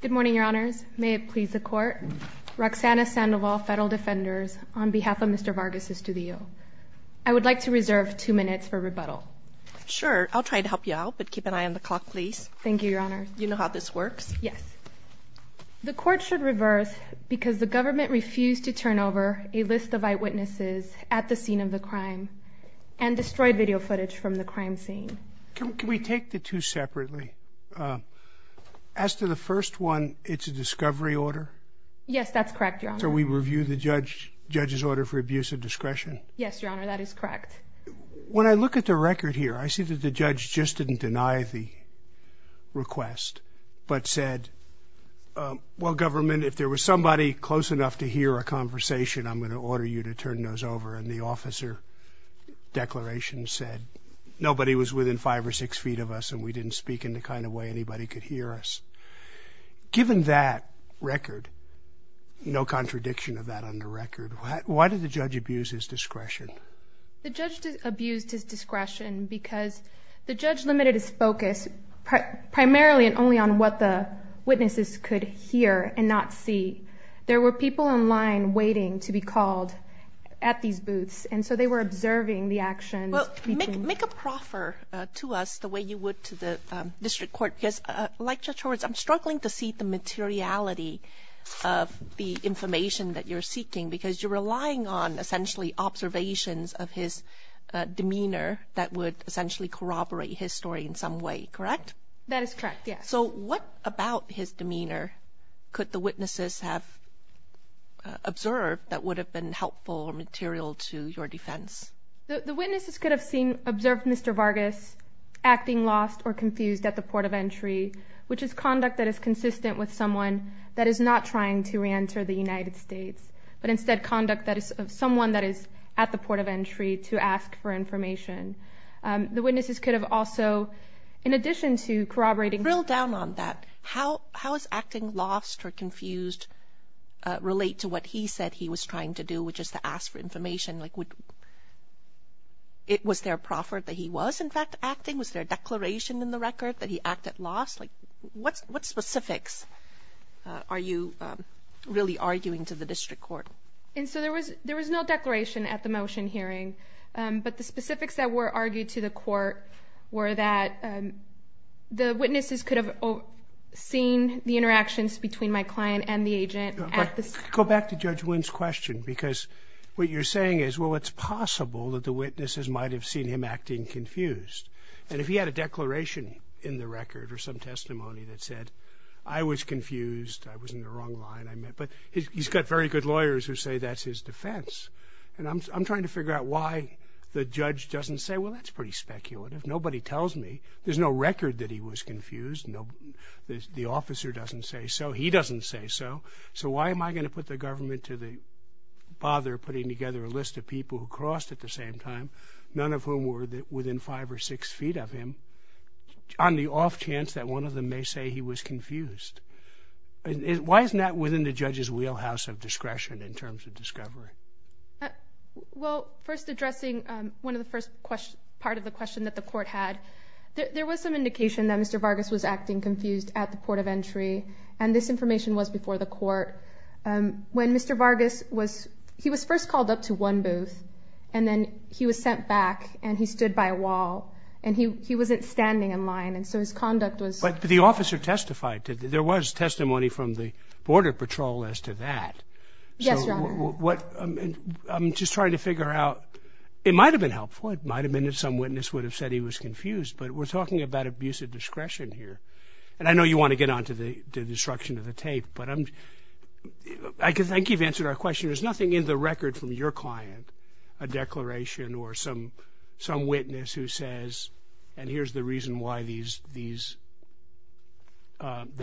Good morning, Your Honors. May it please the Court, Roxana Sandoval, Federal Defenders, on behalf of Mr. Vargas-Estudillo. I would like to reserve two minutes for rebuttal. Sure, I'll try to help you out, but keep an eye on the clock, please. Thank you, Your Honors. You know how this works? Yes. The Court should reverse because the government refused to turn over a list of eyewitnesses at the scene of the crime and destroyed video footage from the crime scene. Can we take the two separately? As to the first one, it's a discovery order? Yes, that's correct, Your Honor. So we review the judge's order for abuse of discretion? Yes, Your Honor, that is correct. When I look at the record here, I see that the judge just didn't deny the request, but said, well, government, if there was somebody close enough to hear a conversation, I'm going to order you to turn those over. And the officer declaration said nobody was within five or six feet of us and we didn't speak in the kind of way anybody could hear us. Given that record, no contradiction of that on the record, why did the judge abuse his discretion? The judge abused his discretion because the judge limited his focus primarily and only on what the witnesses could hear and not see. There were people in line waiting to be called at these booths, and so they were observing the actions. Well, make a proffer to us the way you would to the district court, because like Judge Horwitz, I'm struggling to see the materiality of the information that you're seeking because you're relying on essentially observations of his demeanor that would essentially corroborate his story in some way, correct? That is correct, yes. So what about his demeanor could the witnesses have observed that would have been helpful or material to your defense? The witnesses could have observed Mr. Vargas acting lost or confused at the port of entry, which is conduct that is consistent with someone that is not trying to reenter the United States, but instead conduct that is someone that is at the port of entry to ask for information. The witnesses could have also, in addition to corroborating- Drill down on that. How is acting lost or confused relate to what he said he was trying to do, which is to ask for information? Was there a proffer that he was, in fact, acting? Was there a declaration in the record that he acted lost? What specifics are you really arguing to the district court? And so there was no declaration at the motion hearing, but the specifics that were argued to the court were that the witnesses could have seen the interactions between my client and the agent at the- Go back to Judge Wynn's question because what you're saying is, well, it's possible that the witnesses might have seen him acting confused. And if he had a declaration in the record or some testimony that said, I was confused, I was in the wrong line, I meant- but he's got very good lawyers who say that's his defense. And I'm trying to figure out why the judge doesn't say, well, that's pretty speculative. Nobody tells me. There's no record that he was confused. The officer doesn't say so. He doesn't say so. So why am I going to put the government to the bother putting together a list of people who crossed at the same time, none of whom were within five or six feet of him, on the off chance that one of them may say he was confused? Why isn't that within the judge's wheelhouse of discretion in terms of discovery? Well, first addressing one of the first part of the question that the court had, there was some indication that Mr. Vargas was acting confused at the court of entry, and this information was before the court. When Mr. Vargas was-he was first called up to one booth, and then he was sent back, and he stood by a wall, and he wasn't standing in line, and so his conduct was- But the officer testified. There was testimony from the border patrol as to that. Yes, Your Honor. So what-I'm just trying to figure out-it might have been helpful. It might have been if some witness would have said he was confused, but we're talking about abuse of discretion here. And I know you want to get on to the destruction of the tape, but I think you've answered our question. There's nothing in the record from your client, a declaration, or some witness who says, and here's the reason why the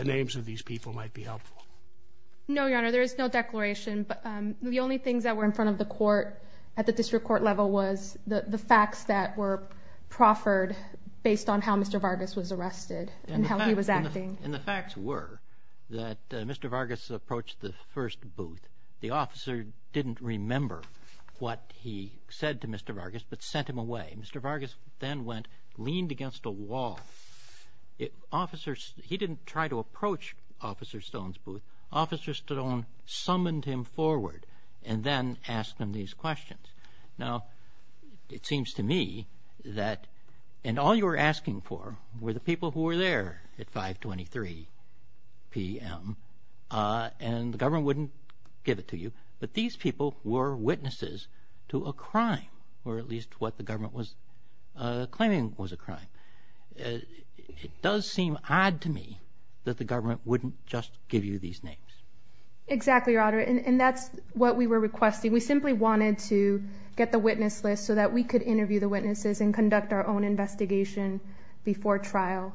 names of these people might be helpful. No, Your Honor, there is no declaration. The only things that were in front of the court at the district court level was the facts that were proffered based on how Mr. Vargas was arrested and how he was acting. And the facts were that Mr. Vargas approached the first booth. The officer didn't remember what he said to Mr. Vargas but sent him away. Mr. Vargas then went, leaned against a wall. He didn't try to approach Officer Stone's booth. Officer Stone summoned him forward and then asked him these questions. Now, it seems to me that-and all you were asking for were the people who were there at 523 p.m. and the government wouldn't give it to you, but these people were witnesses to a crime or at least what the government was claiming was a crime. It does seem odd to me that the government wouldn't just give you these names. Exactly, Your Honor, and that's what we were requesting. We simply wanted to get the witness list so that we could interview the witnesses and conduct our own investigation before trial.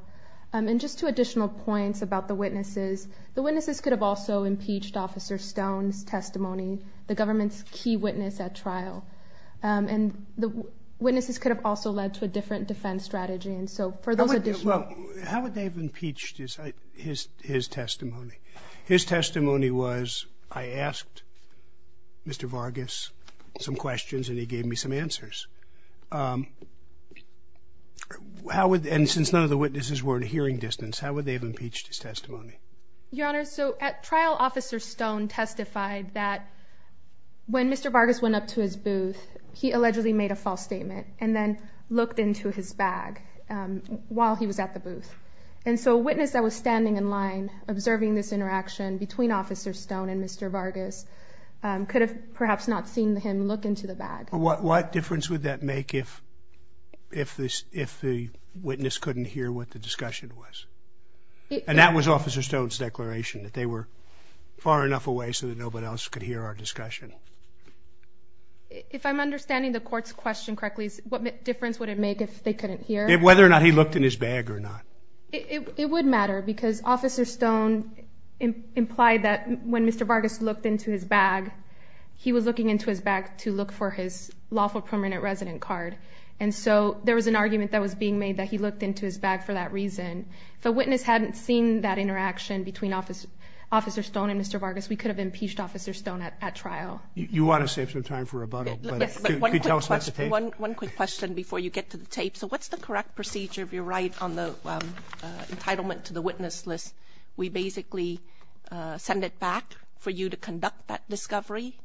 And just two additional points about the witnesses. The witnesses could have also impeached Officer Stone's testimony, the government's key witness at trial, and the witnesses could have also led to a different defense strategy. How would they have impeached his testimony? His testimony was, I asked Mr. Vargas some questions and he gave me some answers. And since none of the witnesses were at a hearing distance, how would they have impeached his testimony? Your Honor, at trial, Officer Stone testified that when Mr. Vargas went up to his booth, he allegedly made a false statement and then looked into his bag while he was at the booth. And so a witness that was standing in line observing this interaction between Officer Stone and Mr. Vargas could have perhaps not seen him look into the bag. What difference would that make if the witness couldn't hear what the discussion was? And that was Officer Stone's declaration, that they were far enough away so that nobody else could hear our discussion. If I'm understanding the Court's question correctly, what difference would it make if they couldn't hear? Whether or not he looked in his bag or not. It would matter because Officer Stone implied that when Mr. Vargas looked into his bag, he was looking into his bag to look for his lawful permanent resident card. And so there was an argument that was being made that he looked into his bag for that reason. If a witness hadn't seen that interaction between Officer Stone and Mr. Vargas, we could have impeached Officer Stone at trial. You want to save some time for rebuttal? Yes, but one quick question before you get to the tape. So what's the correct procedure, if you're right, on the entitlement to the witness list? We basically send it back for you to conduct that discovery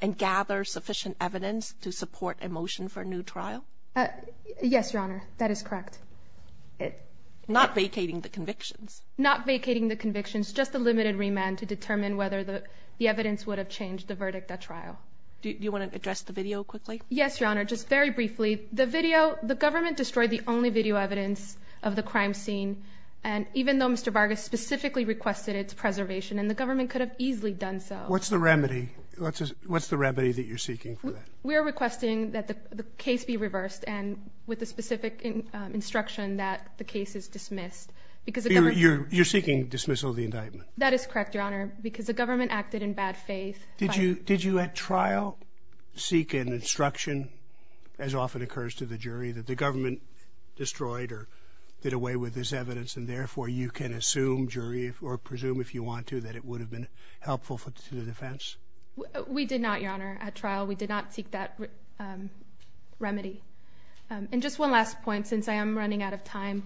and gather sufficient evidence to support a motion for a new trial? Yes, Your Honor, that is correct. Not vacating the convictions? Not vacating the convictions. Just a limited remand to determine whether the evidence would have changed the verdict at trial. Do you want to address the video quickly? Yes, Your Honor, just very briefly. The video, the government destroyed the only video evidence of the crime scene. And even though Mr. Vargas specifically requested its preservation, and the government could have easily done so. What's the remedy? What's the remedy that you're seeking for that? We are requesting that the case be reversed and with the specific instruction that the case is dismissed. You're seeking dismissal of the indictment? That is correct, Your Honor, because the government acted in bad faith. Did you at trial seek an instruction, as often occurs to the jury, that the government destroyed or did away with this evidence, and therefore you can assume, jury, or presume if you want to, that it would have been helpful to the defense? We did not, Your Honor, at trial. We did not seek that remedy. And just one last point, since I am running out of time.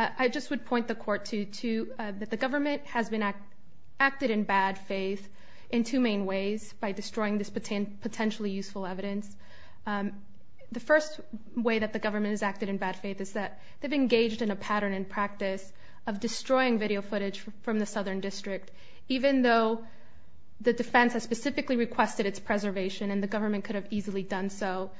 I just would point the Court to that the government has acted in bad faith in two main ways by destroying this potentially useful evidence. The first way that the government has acted in bad faith is that they've engaged in a pattern in practice of destroying video footage from the Southern District. Even though the defense has specifically requested its preservation and the government could have easily done so,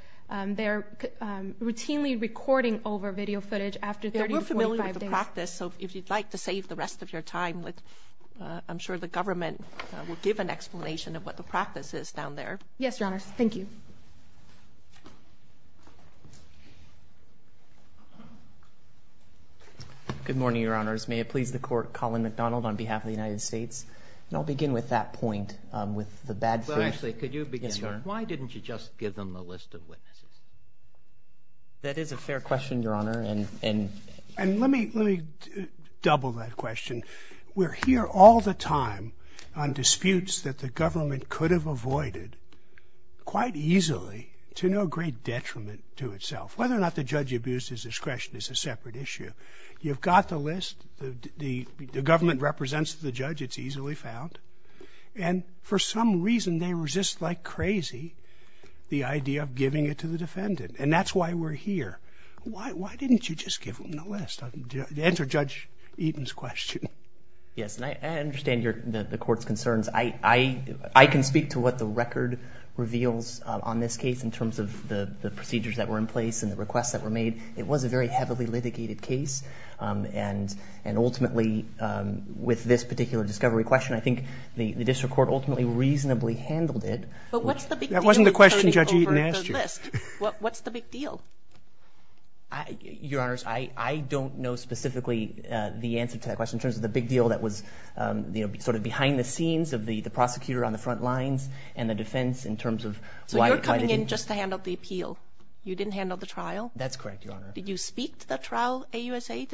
they're routinely recording over video footage after 30 to 45 days. We're familiar with the practice, so if you'd like to save the rest of your time, I'm sure the government will give an explanation of what the practice is down there. Yes, Your Honors, thank you. Good morning, Your Honors. May it please the Court, Colin McDonald on behalf of the United States. And I'll begin with that point, with the bad faith. Well, actually, could you begin? Yes, Your Honor. Why didn't you just give them the list of witnesses? That is a fair question, Your Honor, and... And let me double that question. We're here all the time on disputes that the government could have avoided quite easily to no great detriment to itself. Whether or not the judge abused his discretion is a separate issue. You've got the list. The government represents the judge. It's easily found. And for some reason, they resist like crazy the idea of giving it to the defendant. And that's why we're here. Why didn't you just give them the list? Answer Judge Eaton's question. Yes, and I understand the Court's concerns. I can speak to what the record reveals on this case in terms of the procedures that were in place and the requests that were made. It was a very heavily litigated case. And ultimately, with this particular discovery question, I think the district court ultimately reasonably handled it. But what's the big deal? That wasn't the question Judge Eaton asked you. What's the big deal? Your Honors, I don't know specifically the answer to that question in terms of the big deal that was sort of behind the scenes of the prosecutor on the front lines and the defense in terms of why they didn't... So you're coming in just to handle the appeal. You didn't handle the trial? That's correct, Your Honor. Did you speak to the trial AUSA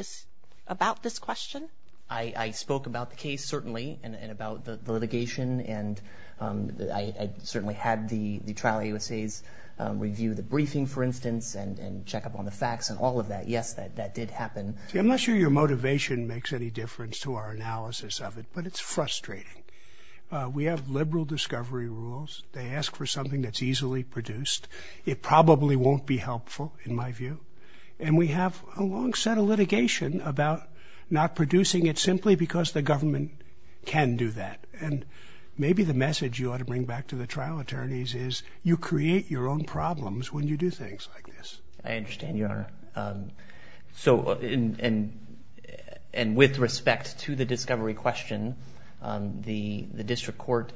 about this question? I spoke about the case, certainly, and about the litigation. And I certainly had the trial AUSAs review the briefing, for instance, and check up on the facts and all of that. Yes, that did happen. See, I'm not sure your motivation makes any difference to our analysis of it, but it's frustrating. We have liberal discovery rules. They ask for something that's easily produced. It probably won't be helpful, in my view. And we have a long set of litigation about not producing it simply because the government can do that. And maybe the message you ought to bring back to the trial attorneys is I understand, Your Honor. And with respect to the discovery question, the district court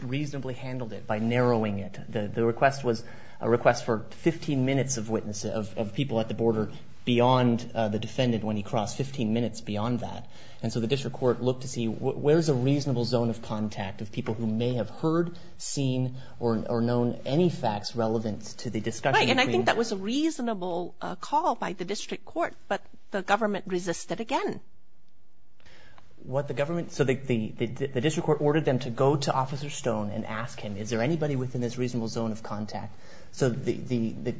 reasonably handled it by narrowing it. The request was a request for 15 minutes of witness, of people at the border beyond the defendant when he crossed, 15 minutes beyond that. And so the district court looked to see where's a reasonable zone of contact of people who may have heard, seen, or known any facts relevant to the discussion. Right, and I think that was a reasonable call by the district court, but the government resisted again. So the district court ordered them to go to Officer Stone and ask him, is there anybody within this reasonable zone of contact? So the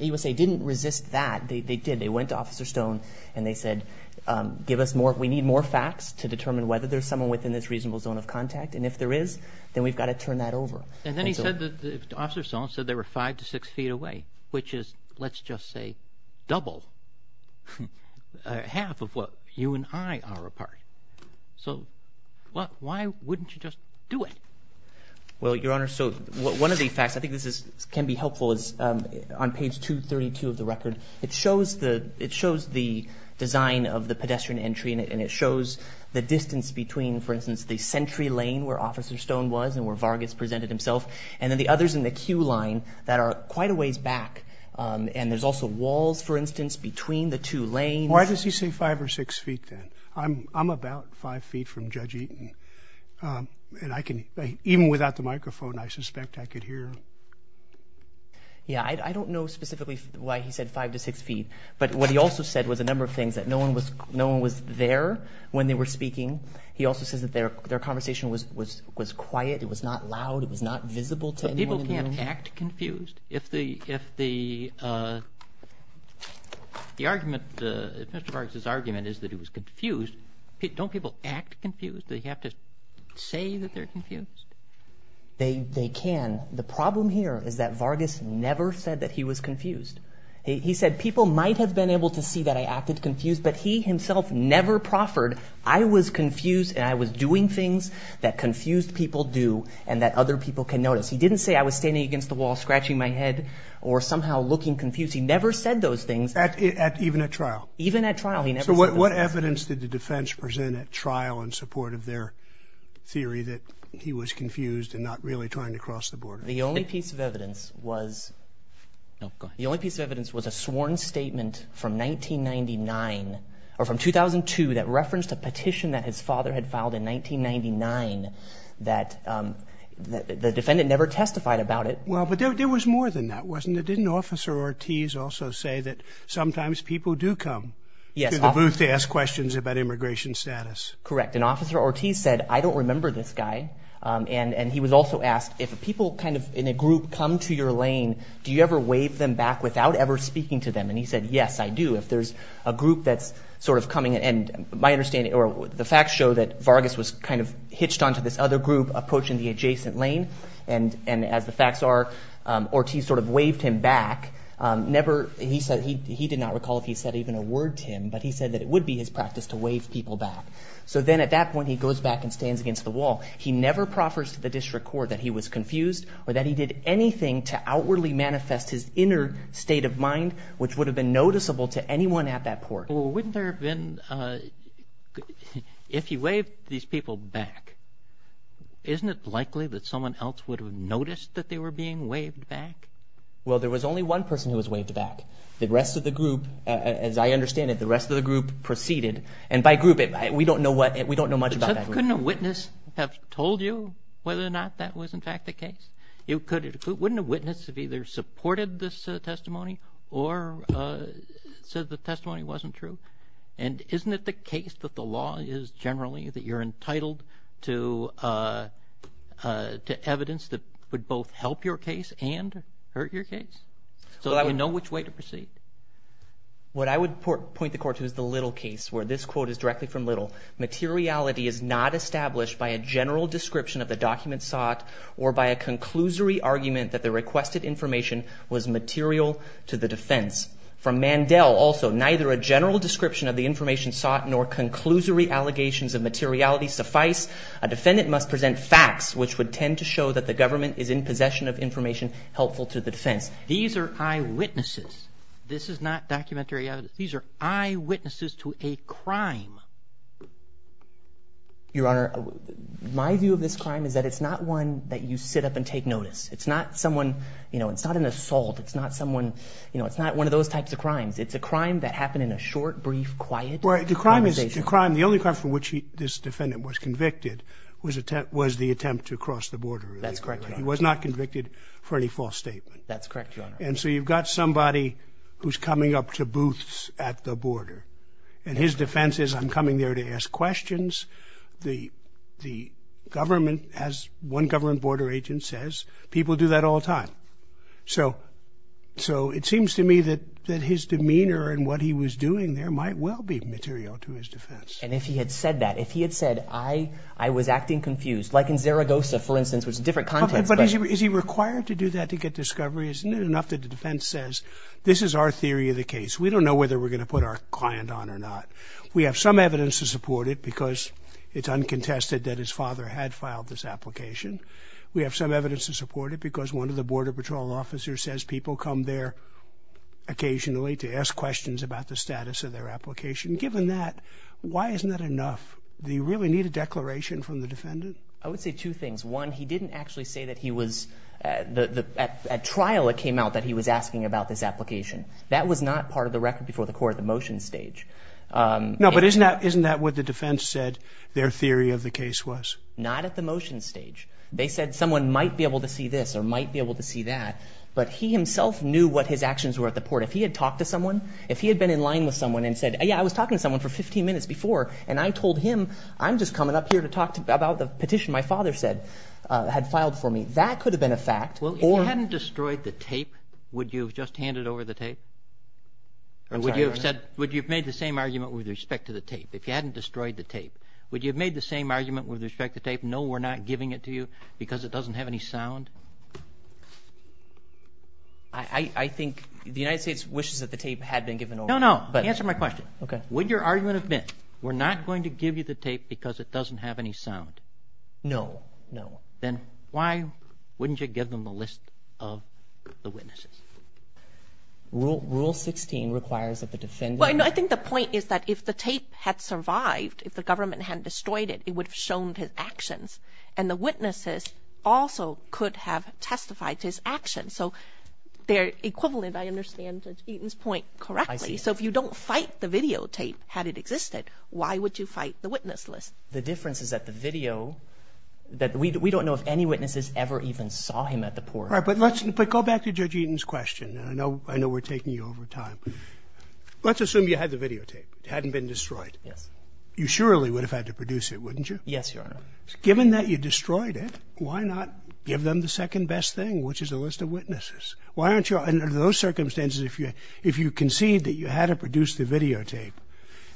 USA didn't resist that. They did. They went to Officer Stone, and they said, we need more facts to determine whether there's someone within this reasonable zone of contact. And if there is, then we've got to turn that over. And then he said that Officer Stone said they were five to six feet away, which is, let's just say, double, half of what you and I are apart. So why wouldn't you just do it? Well, Your Honor, so one of the facts, I think this can be helpful, is on page 232 of the record, it shows the design of the pedestrian entry, and it shows the distance between, for instance, the Sentry Lane where Officer Stone was and where Vargas presented himself, and then the others in the queue line that are quite a ways back. And there's also walls, for instance, between the two lanes. Why does he say five or six feet then? I'm about five feet from Judge Eaton, and I can, even without the microphone, I suspect I could hear him. Yeah, I don't know specifically why he said five to six feet, but what he also said was a number of things, that no one was there when they were speaking. He also says that their conversation was quiet, it was not loud, it was not visible to anyone. But people can't act confused. If Mr. Vargas' argument is that he was confused, don't people act confused? Do they have to say that they're confused? They can. The problem here is that Vargas never said that he was confused. He said, people might have been able to see that I acted confused, but he himself never proffered. I was confused, and I was doing things that confused people do and that other people can notice. He didn't say I was standing against the wall scratching my head or somehow looking confused. He never said those things. Even at trial? Even at trial. So what evidence did the defense present at trial in support of their theory that he was confused and not really trying to cross the border? The only piece of evidence was a sworn statement from 1999, or from 2002 that referenced a petition that his father had filed in 1999 that the defendant never testified about it. Well, but there was more than that, wasn't there? Didn't Officer Ortiz also say that sometimes people do come to the booth to ask questions about immigration status? Correct. And Officer Ortiz said, I don't remember this guy. And he was also asked, if people kind of in a group come to your lane, do you ever wave them back without ever speaking to them? And he said, yes, I do. If there's a group that's sort of coming, and my understanding, or the facts show that Vargas was kind of hitched onto this other group approaching the adjacent lane, and as the facts are, Ortiz sort of waved him back. He did not recall if he said even a word to him, but he said that it would be his practice to wave people back. So then at that point he goes back and stands against the wall. He never proffers to the district court that he was confused or that he did anything to outwardly manifest his inner state of mind, which would have been noticeable to anyone at that court. Well, wouldn't there have been – if he waved these people back, isn't it likely that someone else would have noticed that they were being waved back? Well, there was only one person who was waved back. The rest of the group, as I understand it, the rest of the group proceeded. And by group, we don't know much about that group. Couldn't a witness have told you whether or not that was in fact the case? Wouldn't a witness have either supported this testimony or said the testimony wasn't true? And isn't it the case that the law is generally that you're entitled to evidence that would both help your case and hurt your case? So you know which way to proceed. What I would point the court to is the Little case, where this quote is directly from Little. Materiality is not established by a general description of the document sought or by a conclusory argument that the requested information was material to the defense. From Mandel also, neither a general description of the information sought nor conclusory allegations of materiality suffice. A defendant must present facts which would tend to show that the government is in possession of information helpful to the defense. These are eyewitnesses. This is not documentary evidence. These are eyewitnesses to a crime. Your Honor, my view of this crime is that it's not one that you sit up and take notice. It's not someone, you know, it's not an assault. It's not someone, you know, it's not one of those types of crimes. It's a crime that happened in a short, brief, quiet conversation. Well, the crime is a crime. The only crime for which this defendant was convicted was the attempt to cross the border. That's correct, Your Honor. He was not convicted for any false statement. That's correct, Your Honor. And so you've got somebody who's coming up to booths at the border. And his defense is, I'm coming there to ask questions. The government, as one government border agent says, people do that all the time. So it seems to me that his demeanor and what he was doing there might well be material to his defense. And if he had said that, if he had said, I was acting confused, like in Zaragoza, for instance, which is a different context. But is he required to do that to get discovery? Isn't it enough that the defense says, this is our theory of the case. We don't know whether we're going to put our client on or not. We have some evidence to support it because it's uncontested that his father had filed this application. We have some evidence to support it because one of the border patrol officers says people come there occasionally to ask questions about the status of their application. Given that, why isn't that enough? Do you really need a declaration from the defendant? I would say two things. One, he didn't actually say that he was at trial it came out that he was asking about this application. That was not part of the record before the court at the motion stage. No, but isn't that what the defense said their theory of the case was? Not at the motion stage. They said someone might be able to see this or might be able to see that. But he himself knew what his actions were at the port. If he had talked to someone, if he had been in line with someone and said, yeah, I was talking to someone for 15 minutes before, and I told him, I'm just coming up here to talk about the petition my father had filed for me. That could have been a fact. Well, if you hadn't destroyed the tape, would you have just handed over the tape? Would you have made the same argument with respect to the tape? If you hadn't destroyed the tape, would you have made the same argument with respect to the tape, no, we're not giving it to you because it doesn't have any sound? I think the United States wishes that the tape had been given over. No, no, answer my question. Would your argument have been, we're not going to give you the tape because it doesn't have any sound? No, no. Then why wouldn't you give them a list of the witnesses? Rule 16 requires that the defendant. I think the point is that if the tape had survived, if the government hadn't destroyed it, it would have shown his actions. And the witnesses also could have testified to his actions. So they're equivalent, I understand, to Eaton's point correctly. So if you don't fight the videotape, had it existed, why would you fight the witness list? The difference is that the video, that we don't know if any witnesses ever even saw him at the port. All right, but let's go back to Judge Eaton's question. I know we're taking you over time. Let's assume you had the videotape. It hadn't been destroyed. Yes. You surely would have had to produce it, wouldn't you? Yes, Your Honor. Given that you destroyed it, why not give them the second best thing, which is a list of witnesses? Why aren't you, under those circumstances, if you concede that you had to produce the videotape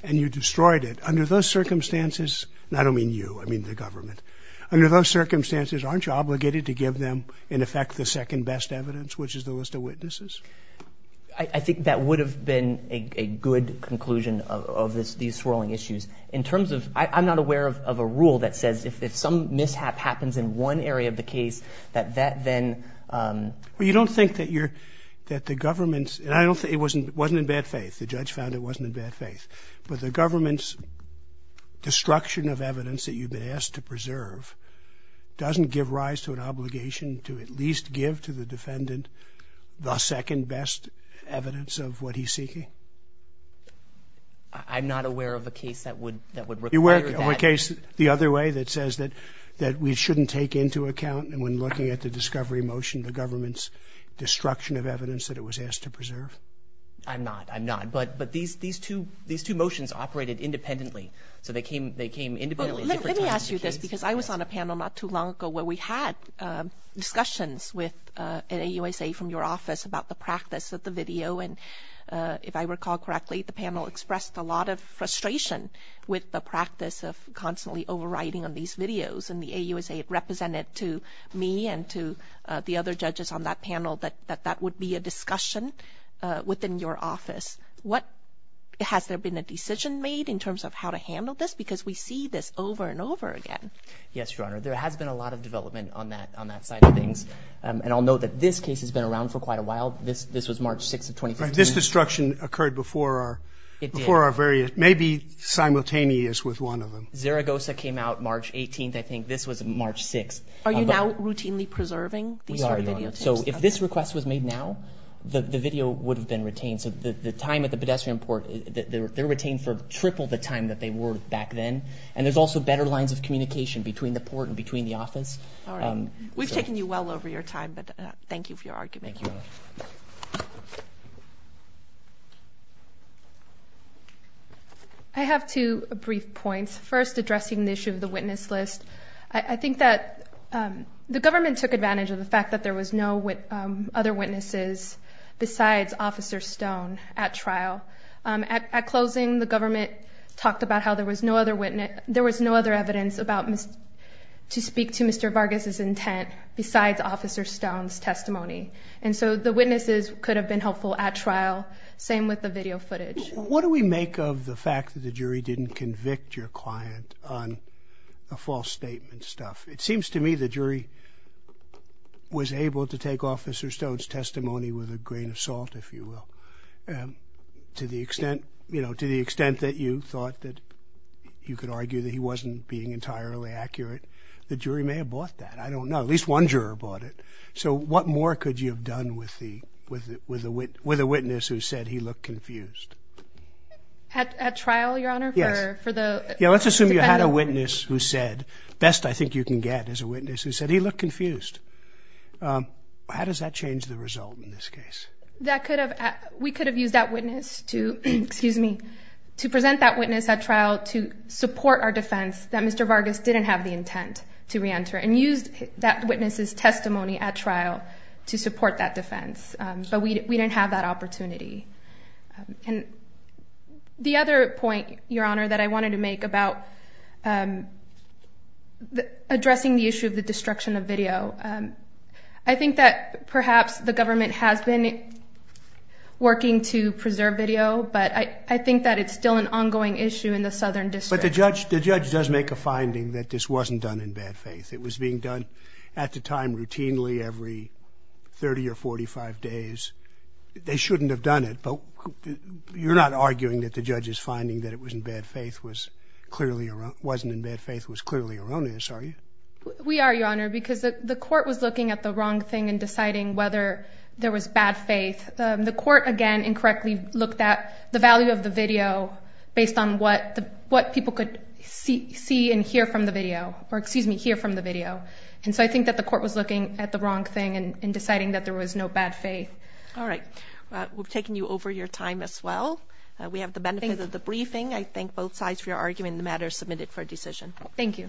and you destroyed it, under those circumstances, and I don't mean you, I mean the government, under those circumstances, aren't you obligated to give them, in effect, the second best evidence, which is the list of witnesses? I think that would have been a good conclusion of these swirling issues. In terms of, I'm not aware of a rule that says if some mishap happens in one area of the case, that that then. Well, you don't think that the government's, and I don't think, it wasn't in bad faith. The judge found it wasn't in bad faith. But the government's destruction of evidence that you've been asked to preserve doesn't give rise to an obligation to at least give to the defendant the second best evidence of what he's seeking? I'm not aware of a case that would require that. Or a case the other way that says that we shouldn't take into account, when looking at the discovery motion, the government's destruction of evidence that it was asked to preserve? I'm not, I'm not. But these two motions operated independently, so they came independently. Let me ask you this, because I was on a panel not too long ago where we had discussions with an AUSA from your office about the practice of the video, and if I recall correctly, the panel expressed a lot of frustration with the practice of constantly overriding on these videos. And the AUSA had represented to me and to the other judges on that panel that that would be a discussion within your office. What, has there been a decision made in terms of how to handle this? Because we see this over and over again. Yes, Your Honor. There has been a lot of development on that side of things. And I'll note that this case has been around for quite a while. This was March 6th of 2015. This destruction occurred before our very, maybe simultaneous with one of them. Zaragoza came out March 18th. I think this was March 6th. Are you now routinely preserving these sort of video tapes? We are, Your Honor. So if this request was made now, the video would have been retained. So the time at the pedestrian port, they were retained for triple the time that they were back then. And there's also better lines of communication between the port and between the office. All right. We've taken you well over your time, but thank you for your argument. Thank you, Your Honor. I have two brief points. First, addressing the issue of the witness list. I think that the government took advantage of the fact that there was no other witnesses besides Officer Stone at trial. At closing, the government talked about how there was no other evidence to speak to Mr. Vargas' intent besides Officer Stone's testimony. And so the witnesses could have been helpful at trial. Same with the video footage. What do we make of the fact that the jury didn't convict your client on the false statement stuff? It seems to me the jury was able to take Officer Stone's testimony with a grain of salt, if you will, to the extent that you thought that you could argue that he wasn't being entirely accurate. The jury may have bought that. I don't know. At least one juror bought it. So what more could you have done with a witness who said he looked confused? At trial, Your Honor? Yes. Let's assume you had a witness who said, best I think you can get is a witness who said he looked confused. How does that change the result in this case? We could have used that witness to present that witness at trial to support our defense that Mr. Vargas didn't have the intent to reenter and used that witness's testimony at trial to support that defense. But we didn't have that opportunity. And the other point, Your Honor, that I wanted to make about addressing the issue of the destruction of video, I think that perhaps the government has been working to preserve video, but I think that it's still an ongoing issue in the Southern District. But the judge does make a finding that this wasn't done in bad faith. It was being done at the time routinely every 30 or 45 days. They shouldn't have done it, but you're not arguing that the judge's finding that it wasn't in bad faith was clearly erroneous, are you? We are, Your Honor, because the court was looking at the wrong thing and deciding whether there was bad faith. The court, again, incorrectly looked at the value of the video based on what people could see and hear from the video, or excuse me, hear from the video. And so I think that the court was looking at the wrong thing and deciding that there was no bad faith. All right. We've taken you over your time as well. We have the benefit of the briefing. I thank both sides for your argument. The matter is submitted for decision. Thank you.